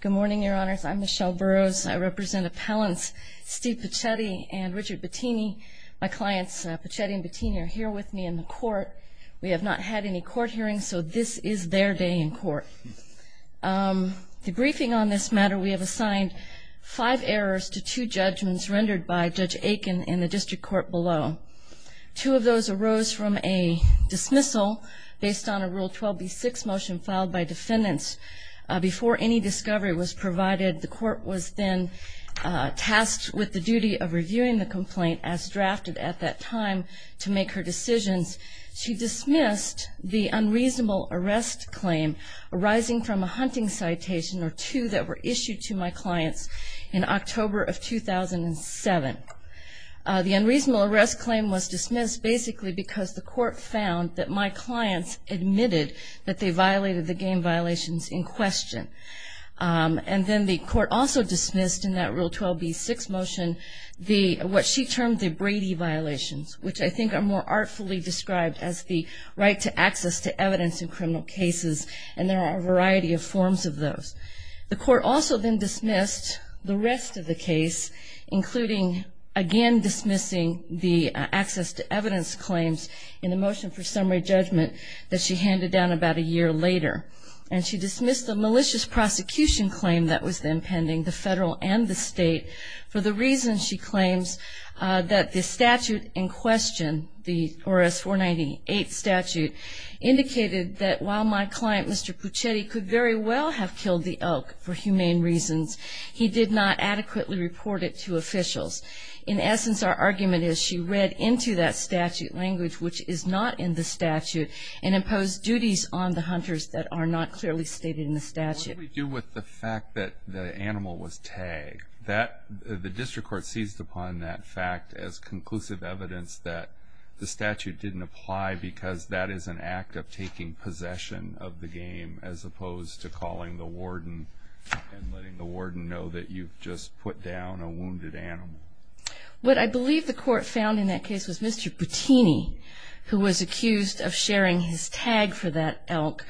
Good morning, your honors. I'm Michelle Burroughs. I represent appellants Steve Puccetti and Richard Bettini. My clients Puccetti and Bettini are here with me in the court. We have not had any court hearings, so this is their day in court. The briefing on this matter, we have assigned five errors to two judgments rendered by Judge Aiken in the district court below. Two of those arose from a dismissal based on a Rule 12b6 motion filed by defendants before any discovery was provided. The court was then tasked with the duty of reviewing the complaint as drafted at that time to make her decisions. She dismissed the unreasonable arrest claim arising from a hunting citation or two that were issued to my clients in October of 2007. The unreasonable arrest claim was dismissed basically because the court found that my clients admitted that they violated the game violations in question. And then the court also dismissed in that Rule 12b6 motion, what she termed the Brady violations, which I think are more artfully described as the right to access to evidence in criminal cases and there are a variety of forms of those. The court also then dismissed the rest of the case, including again dismissing the access to evidence claims in the motion for summary judgment that she handed down about a year later. And she dismissed the malicious prosecution claim that was then pending, the federal and the state, for the reason, she claims, that the statute in question, the RS-498 statute, indicated that while my client, Mr. Puccetti, could very well have killed the elk for humane reasons, he did not adequately report it to officials. In essence, our argument is she read into that statute language, which is not in the statute, and imposed duties on the hunters that are not clearly stated in the statute. What did we do with the fact that the animal was tagged? That, the district court seized upon that fact as conclusive evidence that the statute didn't apply because that is an act of taking possession of the game as opposed to calling the warden and letting the warden know that you've just put down a wounded animal. What I believe the court found in that case was Mr. Puccini, who was accused of sharing his tag for that elk,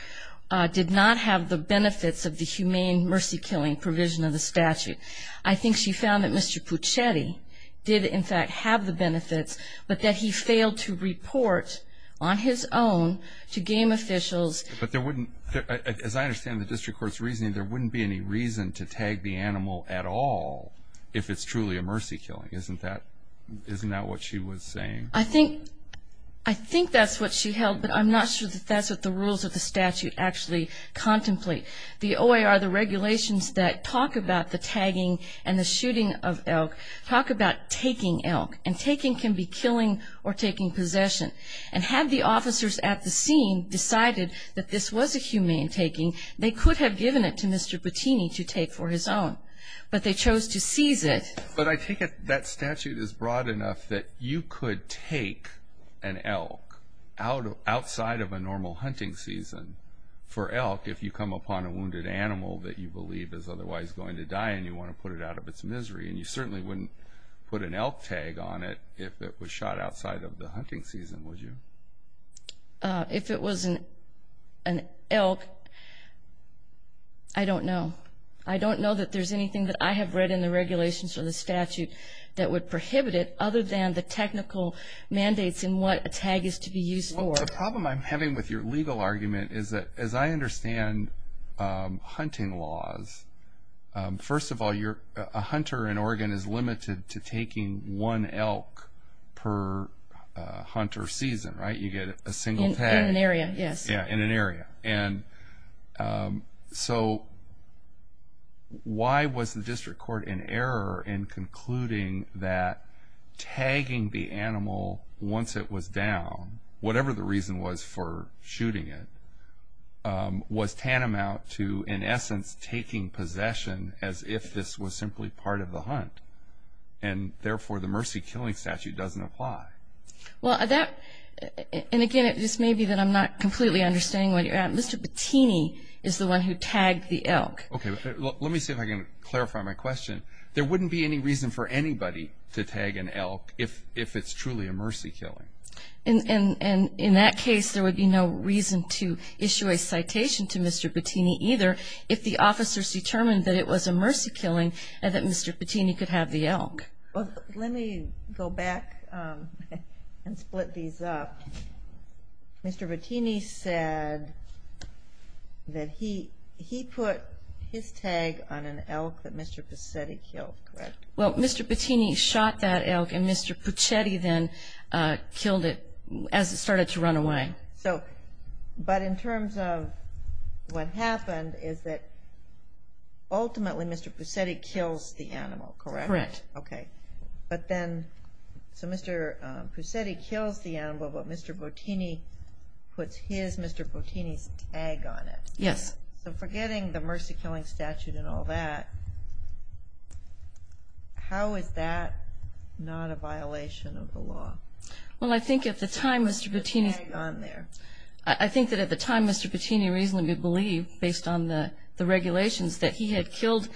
did not have the benefits of the humane mercy killing provision of the statute. I think she found that Mr. Puccetti did in fact have the benefits, but that he failed to report on his own to game officials. But there wouldn't, as I understand the district court's reasoning, there wouldn't be any reason to tag the animal at all if it's truly a mercy killing. Isn't that, isn't that what she was saying? I think, I think that's what she held, but I'm not sure that that's what the rules of the statute actually contemplate. The OAR, the regulations that talk about the tagging and the shooting of elk, talk about taking elk, and taking can be killing or taking possession. And had the officers at the scene decided that this was a humane taking, they could have given it to Mr. Puccini to take for his own. But they chose to seize it. But I think that statute is broad enough that you could take an elk outside of a normal hunting season for elk if you come upon a wounded animal that you believe is otherwise going to die and you want to put it out of its misery. And you certainly wouldn't put an elk tag on it if it was shot outside of the hunting season, would you? If it was an elk, I don't know. I don't know that there's anything that I have read in the regulations or the statute that would prohibit it other than the technical mandates in what a tag is to be used for. The problem I'm having with your legal argument is that, as I understand hunting laws, first of all, a hunter in Oregon is limited to taking one elk per hunter season, right? You get a single tag. In an area, yes. Yeah, in an area. And so why was the district court in error in concluding that tagging the animal once it was down, whatever the reason was for shooting it, was tantamount to, in essence, taking possession as if this was simply part of the hunt? And therefore, the mercy killing statute doesn't apply. Well, that, and again, it just may be that I'm not completely understanding where you're at. Mr. Patini is the one who tagged the elk. Okay, let me see if I can clarify my question. There wouldn't be any reason for anybody to tag an elk if it's truly a mercy killing. And in that case, there would be no reason to issue a citation to Mr. Patini either if the officers determined that it was a mercy killing and that Mr. Patini could have the elk. Let me go back and split these up. Mr. Patini said that he put his tag on an elk that Mr. Puccetti killed, correct? Well, Mr. Patini shot that elk and Mr. Puccetti then killed it as it started to run away. So, but in terms of what happened is that ultimately Mr. Puccetti kills the animal, correct? Correct. Okay. But then, so Mr. Puccetti kills the animal, but Mr. Patini puts his, Mr. Patini's tag on it. Yes. So forgetting the mercy killing statute and all that, how is that not a violation of the law? Well, I think at the time, Mr. Patini's... What was the tag on there? I think that at the time, Mr. Patini reasonably believed, based on the regulations, that he had killed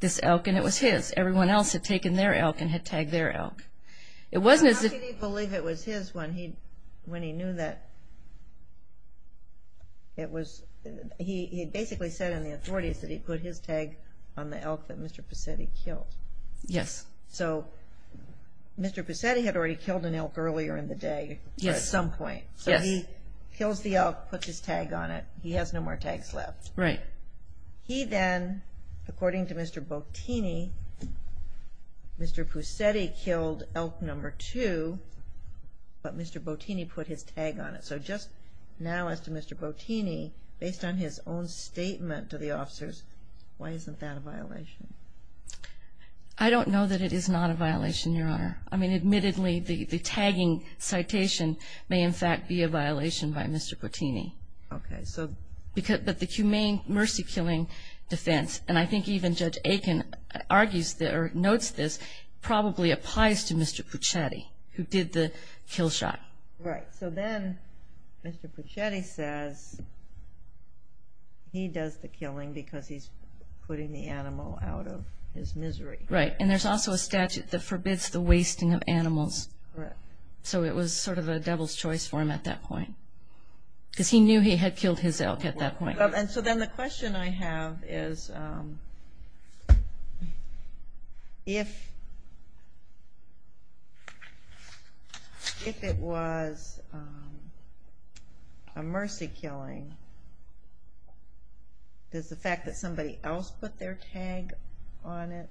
this elk and it was his. Everyone else had taken their elk and had tagged their elk. It wasn't as if... Mr. Patini believed it was his when he knew that it was, he basically said on the authorities that he put his tag on the elk that Mr. Puccetti killed. Yes. So Mr. Puccetti had already killed an elk earlier in the day at some point. So he kills the elk, puts his tag on it. He has no more tags left. Right. He then, according to Mr. Patini, Mr. Puccetti killed elk number two, but Mr. Patini put his tag on it. So just now, as to Mr. Patini, based on his own statement to the officers, why isn't that a violation? I don't know that it is not a violation, Your Honor. I mean, admittedly, the tagging citation may in fact be a violation by Mr. Patini. Okay. But the humane mercy killing defense, and I think even Judge Aiken argues or notes this, probably applies to Mr. Puccetti, who did the kill shot. Right. So then Mr. Puccetti says he does the killing because he's putting the animal out of his misery. Right. And there's also a statute that forbids the wasting of animals. Correct. So it was sort of a devil's choice for him at that point, because he knew he had killed his elk at that point. And so then the question I have is, if it was a mercy killing, does the fact that somebody else put their tag on it,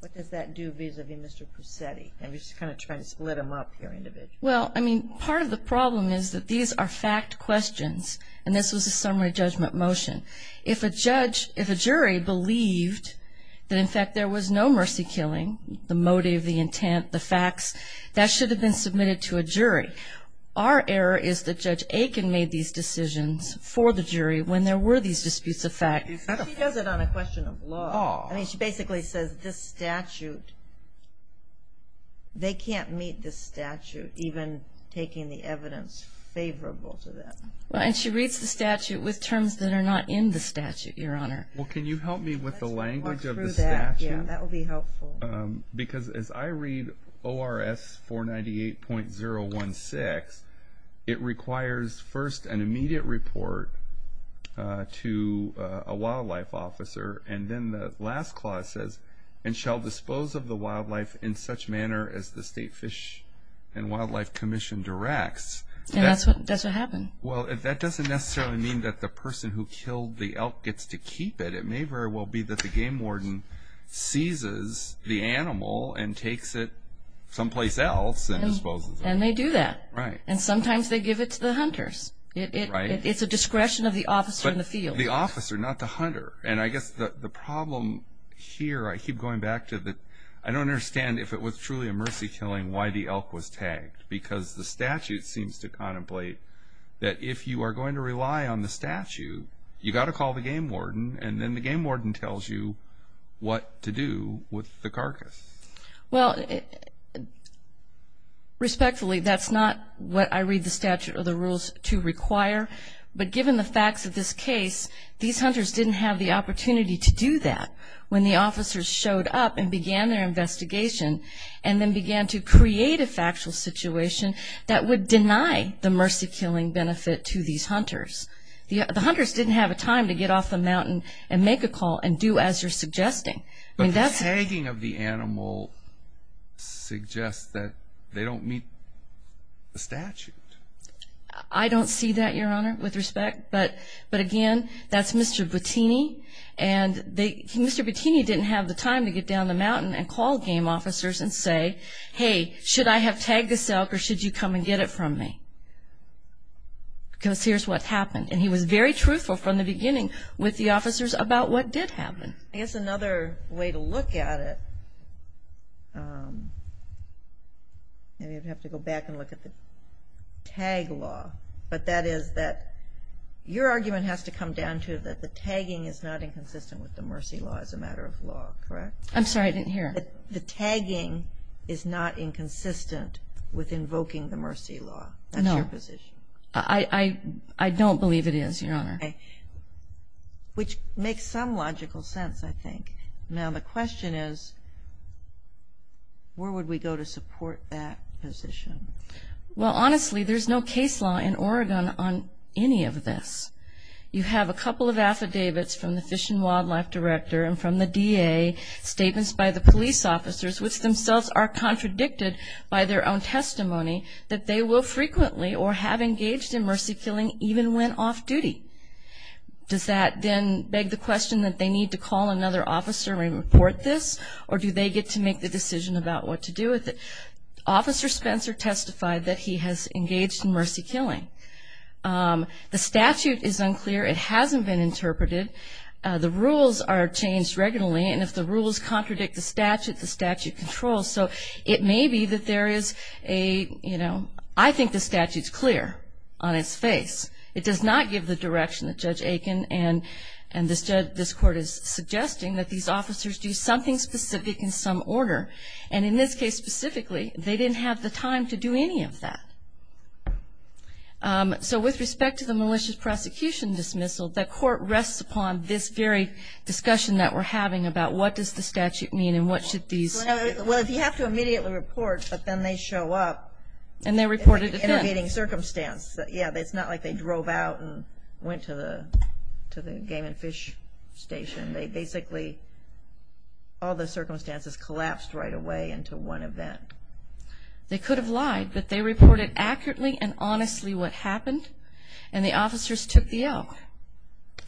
what does that do vis-a-vis Mr. Puccetti? And we're just kind of trying to split them up here individually. Well, I mean, part of the problem is that these are fact questions, and this was a summary judgment motion. If a judge, if a jury believed that in fact there was no mercy killing, the motive, the intent, the facts, that should have been submitted to a jury. Our error is that Judge Aiken made these decisions for the jury when there were these disputes of fact. She does it on a question of law. Oh. I mean, she basically says this statute, they can't meet this statute, even taking the evidence favorable to them. Right. And she reads the statute with terms that are not in the statute, Your Honor. Well, can you help me with the language of the statute? Yeah, that would be helpful. Because as I read ORS 498.016, it requires first an immediate report to a wildlife officer. And then the last clause says, and shall dispose of the wildlife in such manner as the State Fish and Wildlife Commission directs. And that's what happened. Well, that doesn't necessarily mean that the person who killed the elk gets to keep it. It may very well be that the game warden seizes the animal and takes it someplace else and disposes of it. And they do that. Right. And sometimes they give it to the hunters. It's a discretion of the officer in the field. The officer, not the hunter. And I guess the problem here, I keep going back to the, I don't understand if it was truly a mercy killing why the elk was tagged. Because the statute seems to contemplate that if you are going to rely on the statute, you've got to call the game warden. And then the game warden tells you what to do with the carcass. Well, respectfully, that's not what I read the statute or the rules to require. But given the facts of this case, these hunters didn't have the opportunity to do that when the officers showed up and began their investigation. And then began to create a factual situation that would deny the mercy killing benefit to these hunters. The hunters didn't have a time to get off the mountain and make a call and do as you're suggesting. But the tagging of the animal suggests that they don't meet the statute. I don't see that, Your Honor, with respect. But again, that's Mr. Bottini. And Mr. Bottini didn't have the time to get down the mountain and call game officers and say, hey, should I have tagged this elk or should you come and get it from me? Because here's what happened. And he was very truthful from the beginning with the officers about what did happen. It's another way to look at it. Maybe I'd have to go back and look at the tag law. But that is that your argument has to come down to that the tagging is not inconsistent with the mercy law as a matter of law, correct? I'm sorry, I didn't hear. The tagging is not inconsistent with invoking the mercy law. No. That's your position. I don't believe it is, Your Honor. Which makes some logical sense, I think. Now, the question is, where would we go to support that position? Well, honestly, there's no case law in Oregon on any of this. You have a couple of affidavits from the Fish and Wildlife Director and from the DA, statements by the police officers, which themselves are contradicted by their own testimony that they will frequently or have engaged in mercy killing even when off duty. Does that then beg the question that they need to call another officer and report this? Or do they get to make the decision about what to do with it? Officer Spencer testified that he has engaged in mercy killing. The statute is unclear. It hasn't been interpreted. The rules are changed regularly. And if the rules contradict the statute, the statute controls. So it may be that there is a, you know, I think the statute's clear on its face. It does not give the direction that Judge Aiken and this court is suggesting that these officers do something specific in some order. And in this case, specifically, they didn't have the time to do any of that. So with respect to the malicious prosecution dismissal, the court rests upon this very discussion that we're having about what does the statute mean and what should these. Well, if you have to immediately report, but then they show up. And they're reported. Innovating circumstance. Yeah, it's not like they drove out and went to the to the game and fish station. They basically. All the circumstances collapsed right away into one event. They could have lied, but they reported accurately and honestly what happened. And the officers took the L.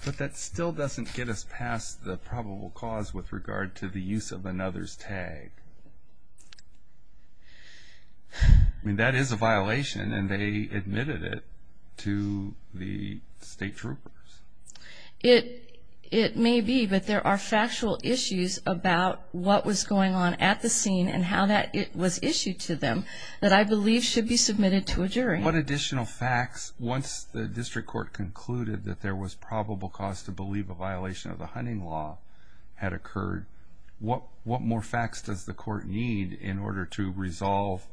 But that still doesn't get us past the probable cause with regard to the use of another's tag. I mean, that is a violation and they admitted it to the state troopers. It it may be, but there are factual issues about what was going on at the scene and how that it was issued to them that I believe should be submitted to a jury. What additional facts once the district court concluded that there was probable cause to believe a violation of the hunting law had occurred? What what more facts does the court need in order to resolve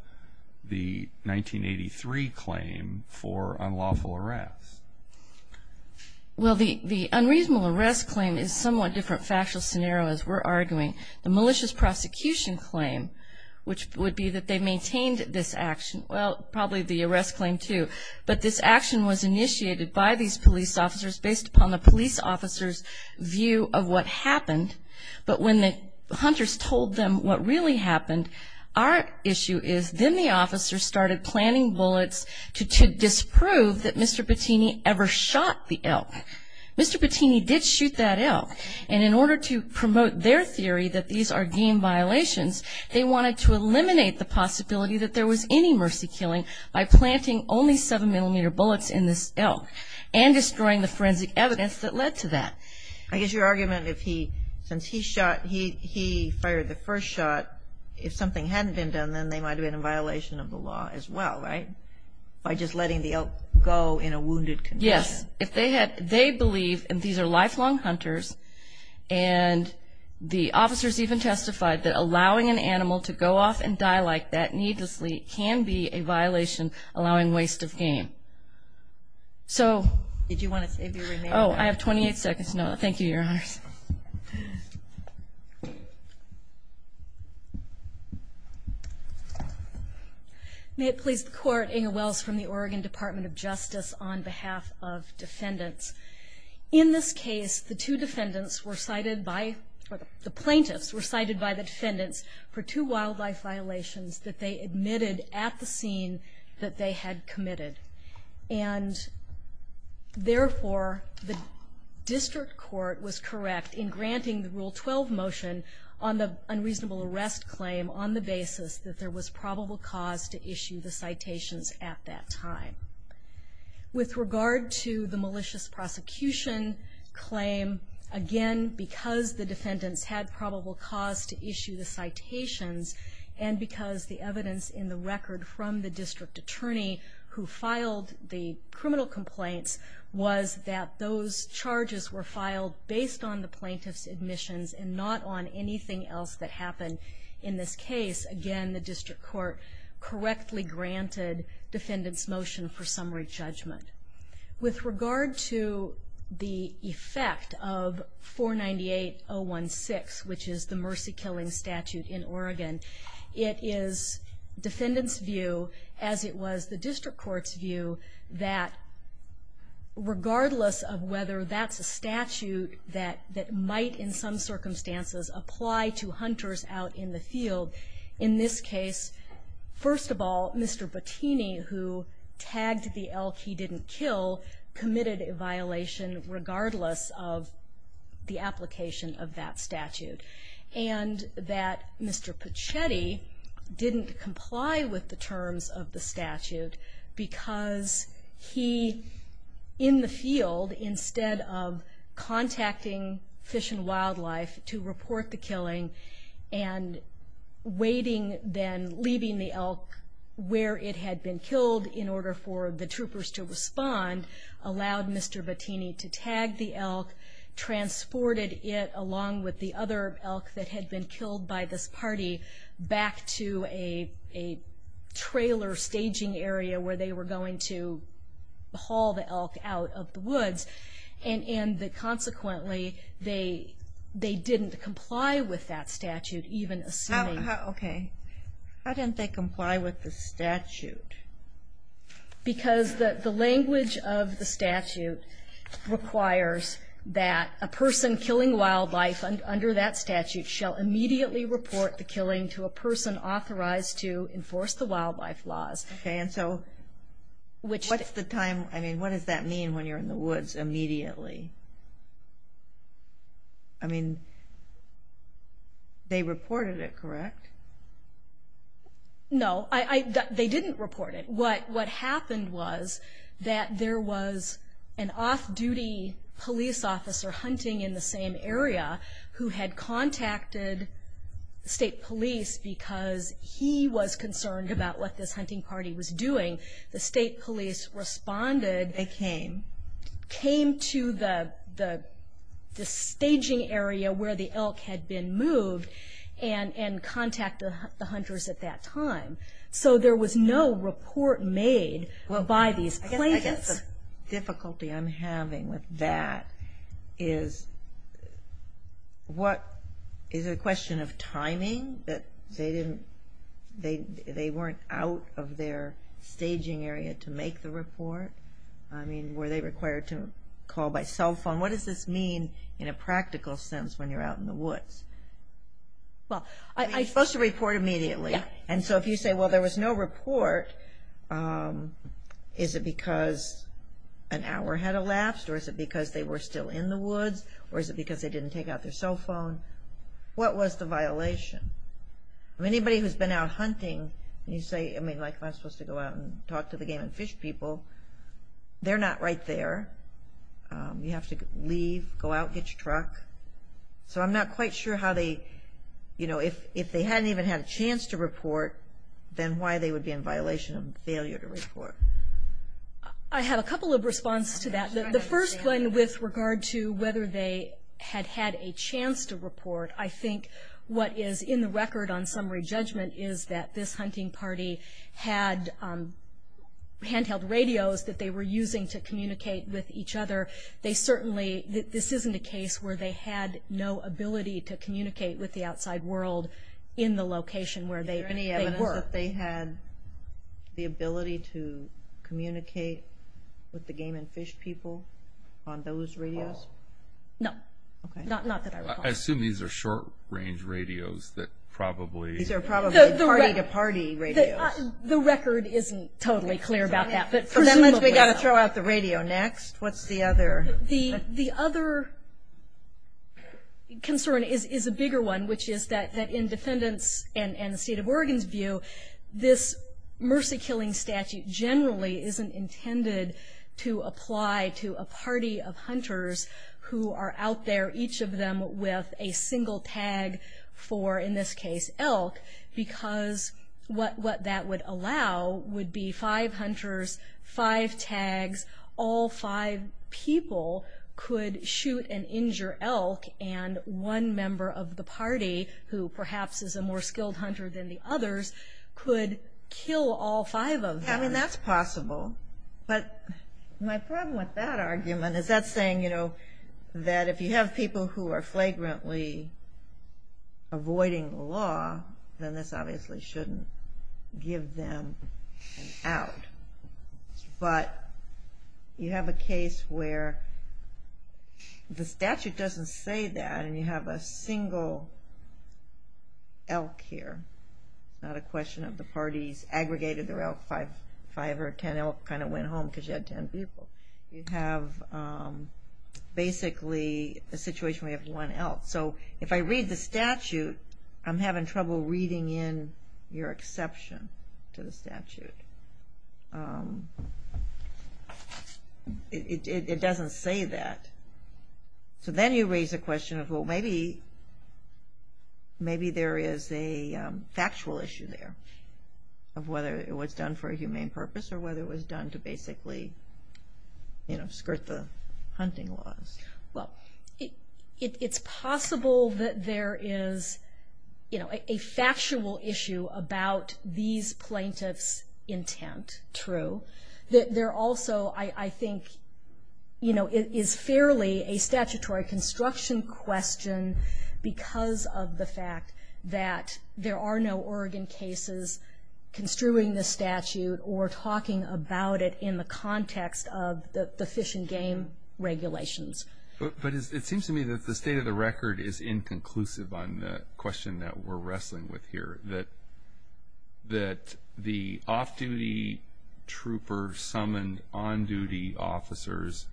the 1983 claim for unlawful arrest? Well, the the unreasonable arrest claim is somewhat different. Factual scenarios were arguing the malicious prosecution claim, which would be that they maintained this action. Well, probably the arrest claim, too. But this action was initiated by these police officers based upon the police officer's view of what happened. But when the hunters told them what really happened, our issue is then the officers started planning bullets to disprove that Mr. Bettini ever shot the elk. Mr. Bettini did shoot that elk. And in order to promote their theory that these are game violations, they wanted to eliminate the possibility that there was any mercy killing by planting only seven millimeter bullets in this elk and destroying the forensic evidence that led to that. I guess your argument, if he since he shot, he fired the first shot, if something hadn't been done, then they might have been in violation of the law as well. Right. By just letting the elk go in a wounded. Yes. If they had they believe and these are lifelong hunters and the officers even testified that allowing an animal to go off and die like that needlessly can be a violation, allowing waste of game. So did you want to say, oh, I have 28 seconds. No, thank you, Your Honors. May it please the court, Inga Wells from the Oregon Department of Justice on behalf of defendants. In this case, the two defendants were cited by the plaintiffs were cited by the defendants for two wildlife violations that they admitted at the scene that they had committed. And therefore, the district court was correct in granting the rule 12 motion on the unreasonable arrest claim on the basis that there was probable cause to issue the citations at that time. With regard to the malicious prosecution claim again, because the defendants had probable cause to issue the citations and because the evidence in the record from the district attorney who filed the criminal complaints was that those charges were filed based on the plaintiff's admissions and not on anything else that happened in this case. Again, the district court correctly granted defendants motion for summary judgment with regard to the effect of 498016, which is the mercy killing statute in Oregon. It is defendant's view, as it was the district court's view, that regardless of whether that's a statute that might in some circumstances apply to hunters out in the field. In this case, first of all, Mr. Bottini, who tagged the elk he didn't kill, committed a violation regardless of the application of that statute. And that Mr. Pichetti didn't comply with the terms of the statute because he, in the field, instead of contacting Fish and Wildlife to report the killing and waiting then leaving the elk where it had been killed in order for the troopers to respond, allowed Mr. Bottini to tag the elk, transported it along with the other men and women who had been killed. And that, consequently, they didn't comply with that statute, even assuming... Okay, how didn't they comply with the statute? Because the language of the statute requires that a person killing wildlife under that statute shall immediately report the killing to a person authorized to enforce the wildlife laws. Okay, and so what's the time, I mean, what does that mean when you're in the woods immediately? I mean, they reported it, correct? No, they didn't report it. What happened was that there was an off-duty police officer hunting in the same area who had contacted state police because he was concerned about what this hunting party was doing. The state police responded... They came. Came to the staging area where the elk had been moved and contacted the hunters at that time. So there was no report made by these plaintiffs. I guess the difficulty I'm having with that is, what, is it a question of timing, that they didn't, they weren't out of their staging area to make the report? I mean, were they required to call by cell phone? What does this mean in a practical sense when you're out in the woods? Well, I... Is it because an hour had elapsed, or is it because they were still in the woods, or is it because they didn't take out their cell phone? What was the violation? I mean, anybody who's been out hunting, you say, I mean, like, I'm supposed to go out and talk to the game and fish people. They're not right there. You have to leave, go out, get your truck. So I'm not quite sure how they, you know, if they hadn't even had a chance to report, then why they would be in violation of failure to report. I have a couple of response to that. The first one with regard to whether they had had a chance to report, I think what is in the record on summary judgment is that this hunting party had handheld radios that they were using to communicate with each other. They certainly, this isn't a case where they had no ability to communicate with the outside world in the location where they were. Is there any evidence that they had the ability to communicate with the game and fish people on those radios? No. Not that I recall. I assume these are short-range radios that probably... These are probably party-to-party radios. The record isn't totally clear about that, but presumably so. We've got to throw out the radio next. What's the other... The other concern is a bigger one, which is that in defendants' and the state of Oregon's view, this mercy-killing statute generally isn't intended to apply to a party of hunters who are out there, each of them, with a single tag for, in this case, elk, because what that would allow would be five hunters, five tags, all five people, could shoot and injure elk, and one member of the party, who perhaps is a more skilled hunter than the others, could kill all five of them. I mean, that's possible. But my problem with that argument is that's saying, you know, that if you have people who are flagrantly avoiding law, then this obviously shouldn't give them an out. But you have a case where the statute doesn't say that, and you have a single elk here, not a question of the parties aggregated their elk. Five or ten elk kind of went home because you had ten people. You have basically a situation where you have one elk. So if I read the statute, I'm having trouble reading in your exception to the statute. It doesn't say that. So then you raise the question of, well, maybe there is a factual issue there of whether it was done for a humane purpose or whether it was done to basically, you know, skirt the hunting laws. Well, it's possible that there is, you know, a factual issue about these plaintiffs' intent, true. There also, I think, you know, is fairly a statutory construction question because of the fact that there are no Oregon cases construing the statute or talking about it in the context of the fish and game regulations. But it seems to me that the state of the record is inconclusive on the question that we're wrestling with here, that the off-duty trooper summoned on-duty officers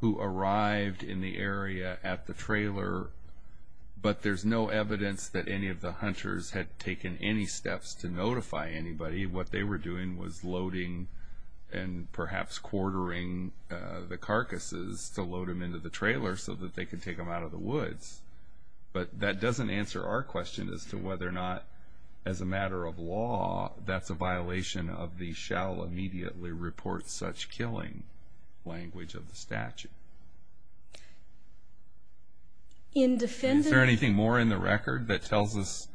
who arrived in the area at the trailer, but there's no evidence that any of the hunters had taken any steps to notify anybody. What they were doing was loading and perhaps quartering the carcasses to load them into the trailer so that they could take them out of the woods. But that doesn't answer our question as to whether or not, as a matter of law, that's a violation of the shall immediately report such killing language of the statute. Is there anything more in the record that tells us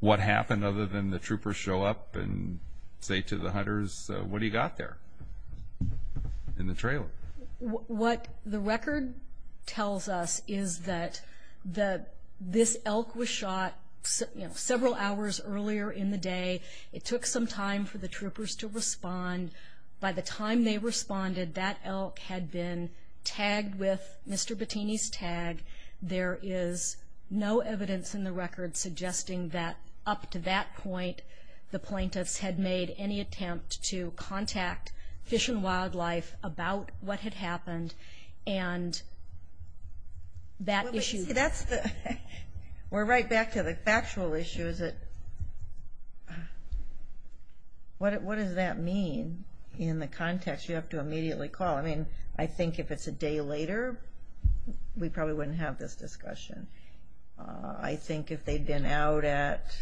what happened other than the troopers show up and say to the hunters, what do you got there in the trailer? What the record tells us is that this elk was shot, you know, several hours earlier in the day. It took some time for the troopers to respond. By the time they responded, that elk had been tagged with Mr. Bettini's tag. There is no evidence in the record suggesting that up to that point, the plaintiffs had made any attempt to contact Fish and Wildlife about what had happened. And that issue... We're right back to the factual issues. What does that mean in the context you have to immediately call? I mean, I think if it's a day later, we probably wouldn't have this discussion. I think if they'd been out at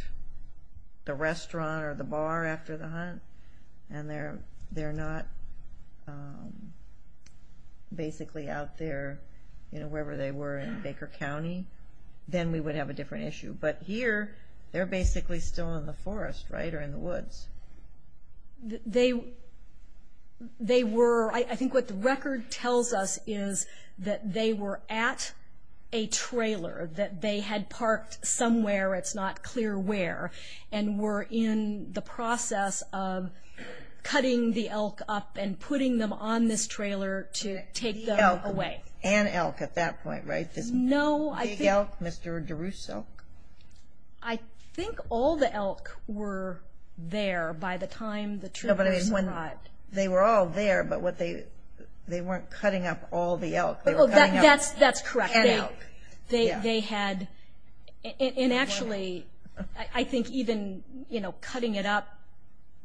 the restaurant or the bar after the hunt and they're not basically out there, you know, wherever they were in Baker County, then we would have a different issue. But here, they're basically still in the forest, right, or in the woods. They were... I think what the record tells us is that they were at a trailer that they had parked somewhere, it's not clear where, and were in the process of cutting the elk up and putting them on this trailer to take them away. And elk at that point, right? No, I think... Big elk, Mr. DeRusso? I think all the elk were there by the time the troopers arrived. They were all there, but they weren't cutting up all the elk. That's correct. And elk. They had... And actually, I think even cutting it up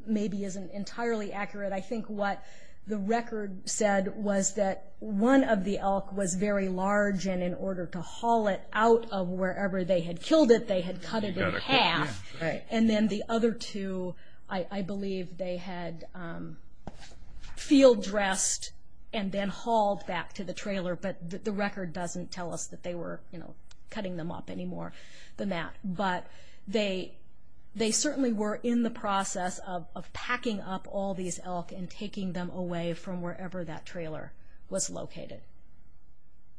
maybe isn't entirely accurate. I think what the record said was that one of the elk was very large, and in order to haul it out of wherever they had killed it, they had cut it in half. And then the other two, I believe they had field-dressed and then hauled back to the trailer, but the record doesn't tell us that they were cutting them up any more than that. But they certainly were in the process of packing up all these elk and taking them away from wherever that trailer was located,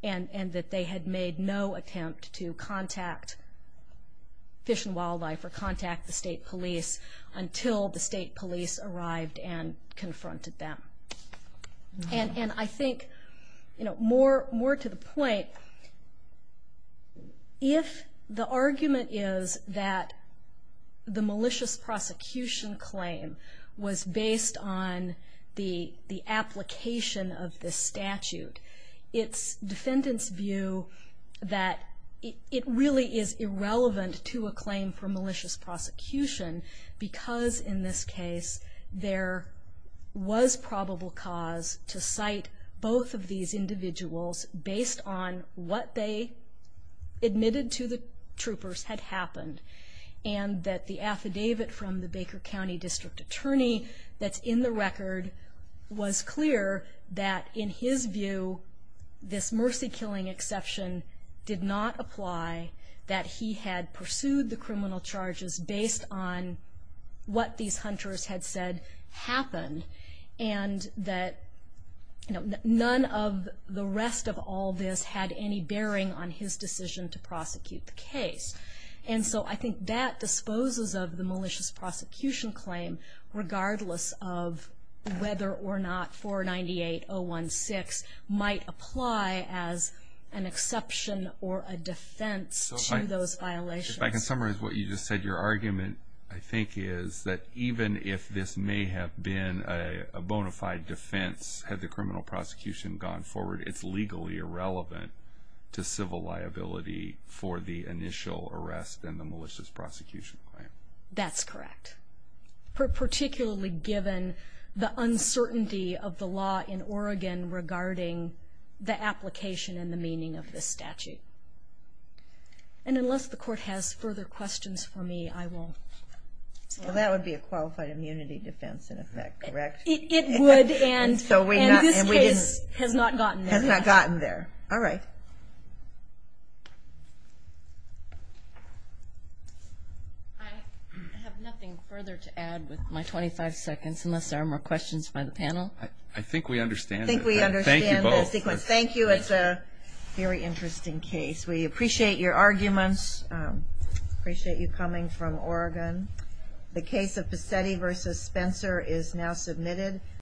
and that they had made no attempt to contact Fish and Wildlife or contact the state police until the state police arrived and confronted them. And I think, you know, more to the point, if the argument is that the malicious prosecution claim was based on the application of this statute, it's defendants' view that it really is irrelevant to a claim for malicious prosecution because, in this case, there was probable cause to cite both of these individuals based on what they admitted to the troopers had happened. And that the affidavit from the Baker County District Attorney that's in the record was clear that, in his view, this mercy killing exception did not apply, that he had pursued the criminal charges based on what these hunters had said happened, and that none of the rest of all this had any bearing on his decision to prosecute the case. And so I think that disposes of the malicious prosecution claim, regardless of whether or not 498016 might apply as an exception or a defense to those violations. So if I can summarize what you just said, your argument, I think, is that even if this may have been a bona fide defense had the criminal prosecution gone forward, it's legally irrelevant to civil liability for the initial arrest and the malicious prosecution claim. That's correct, particularly given the uncertainty of the law in Oregon regarding the application and the meaning of this statute. And unless the Court has further questions for me, I won't. Well, that would be a qualified immunity defense, in effect, correct? It would, and this case has not gotten there yet. Has not gotten there. All right. I have nothing further to add with my 25 seconds, unless there are more questions by the panel. I think we understand that. I think we understand the sequence. Thank you both. Thank you. It's a very interesting case. We appreciate your arguments. Appreciate you coming from Oregon. The case of Pisetti v. Spencer is now submitted.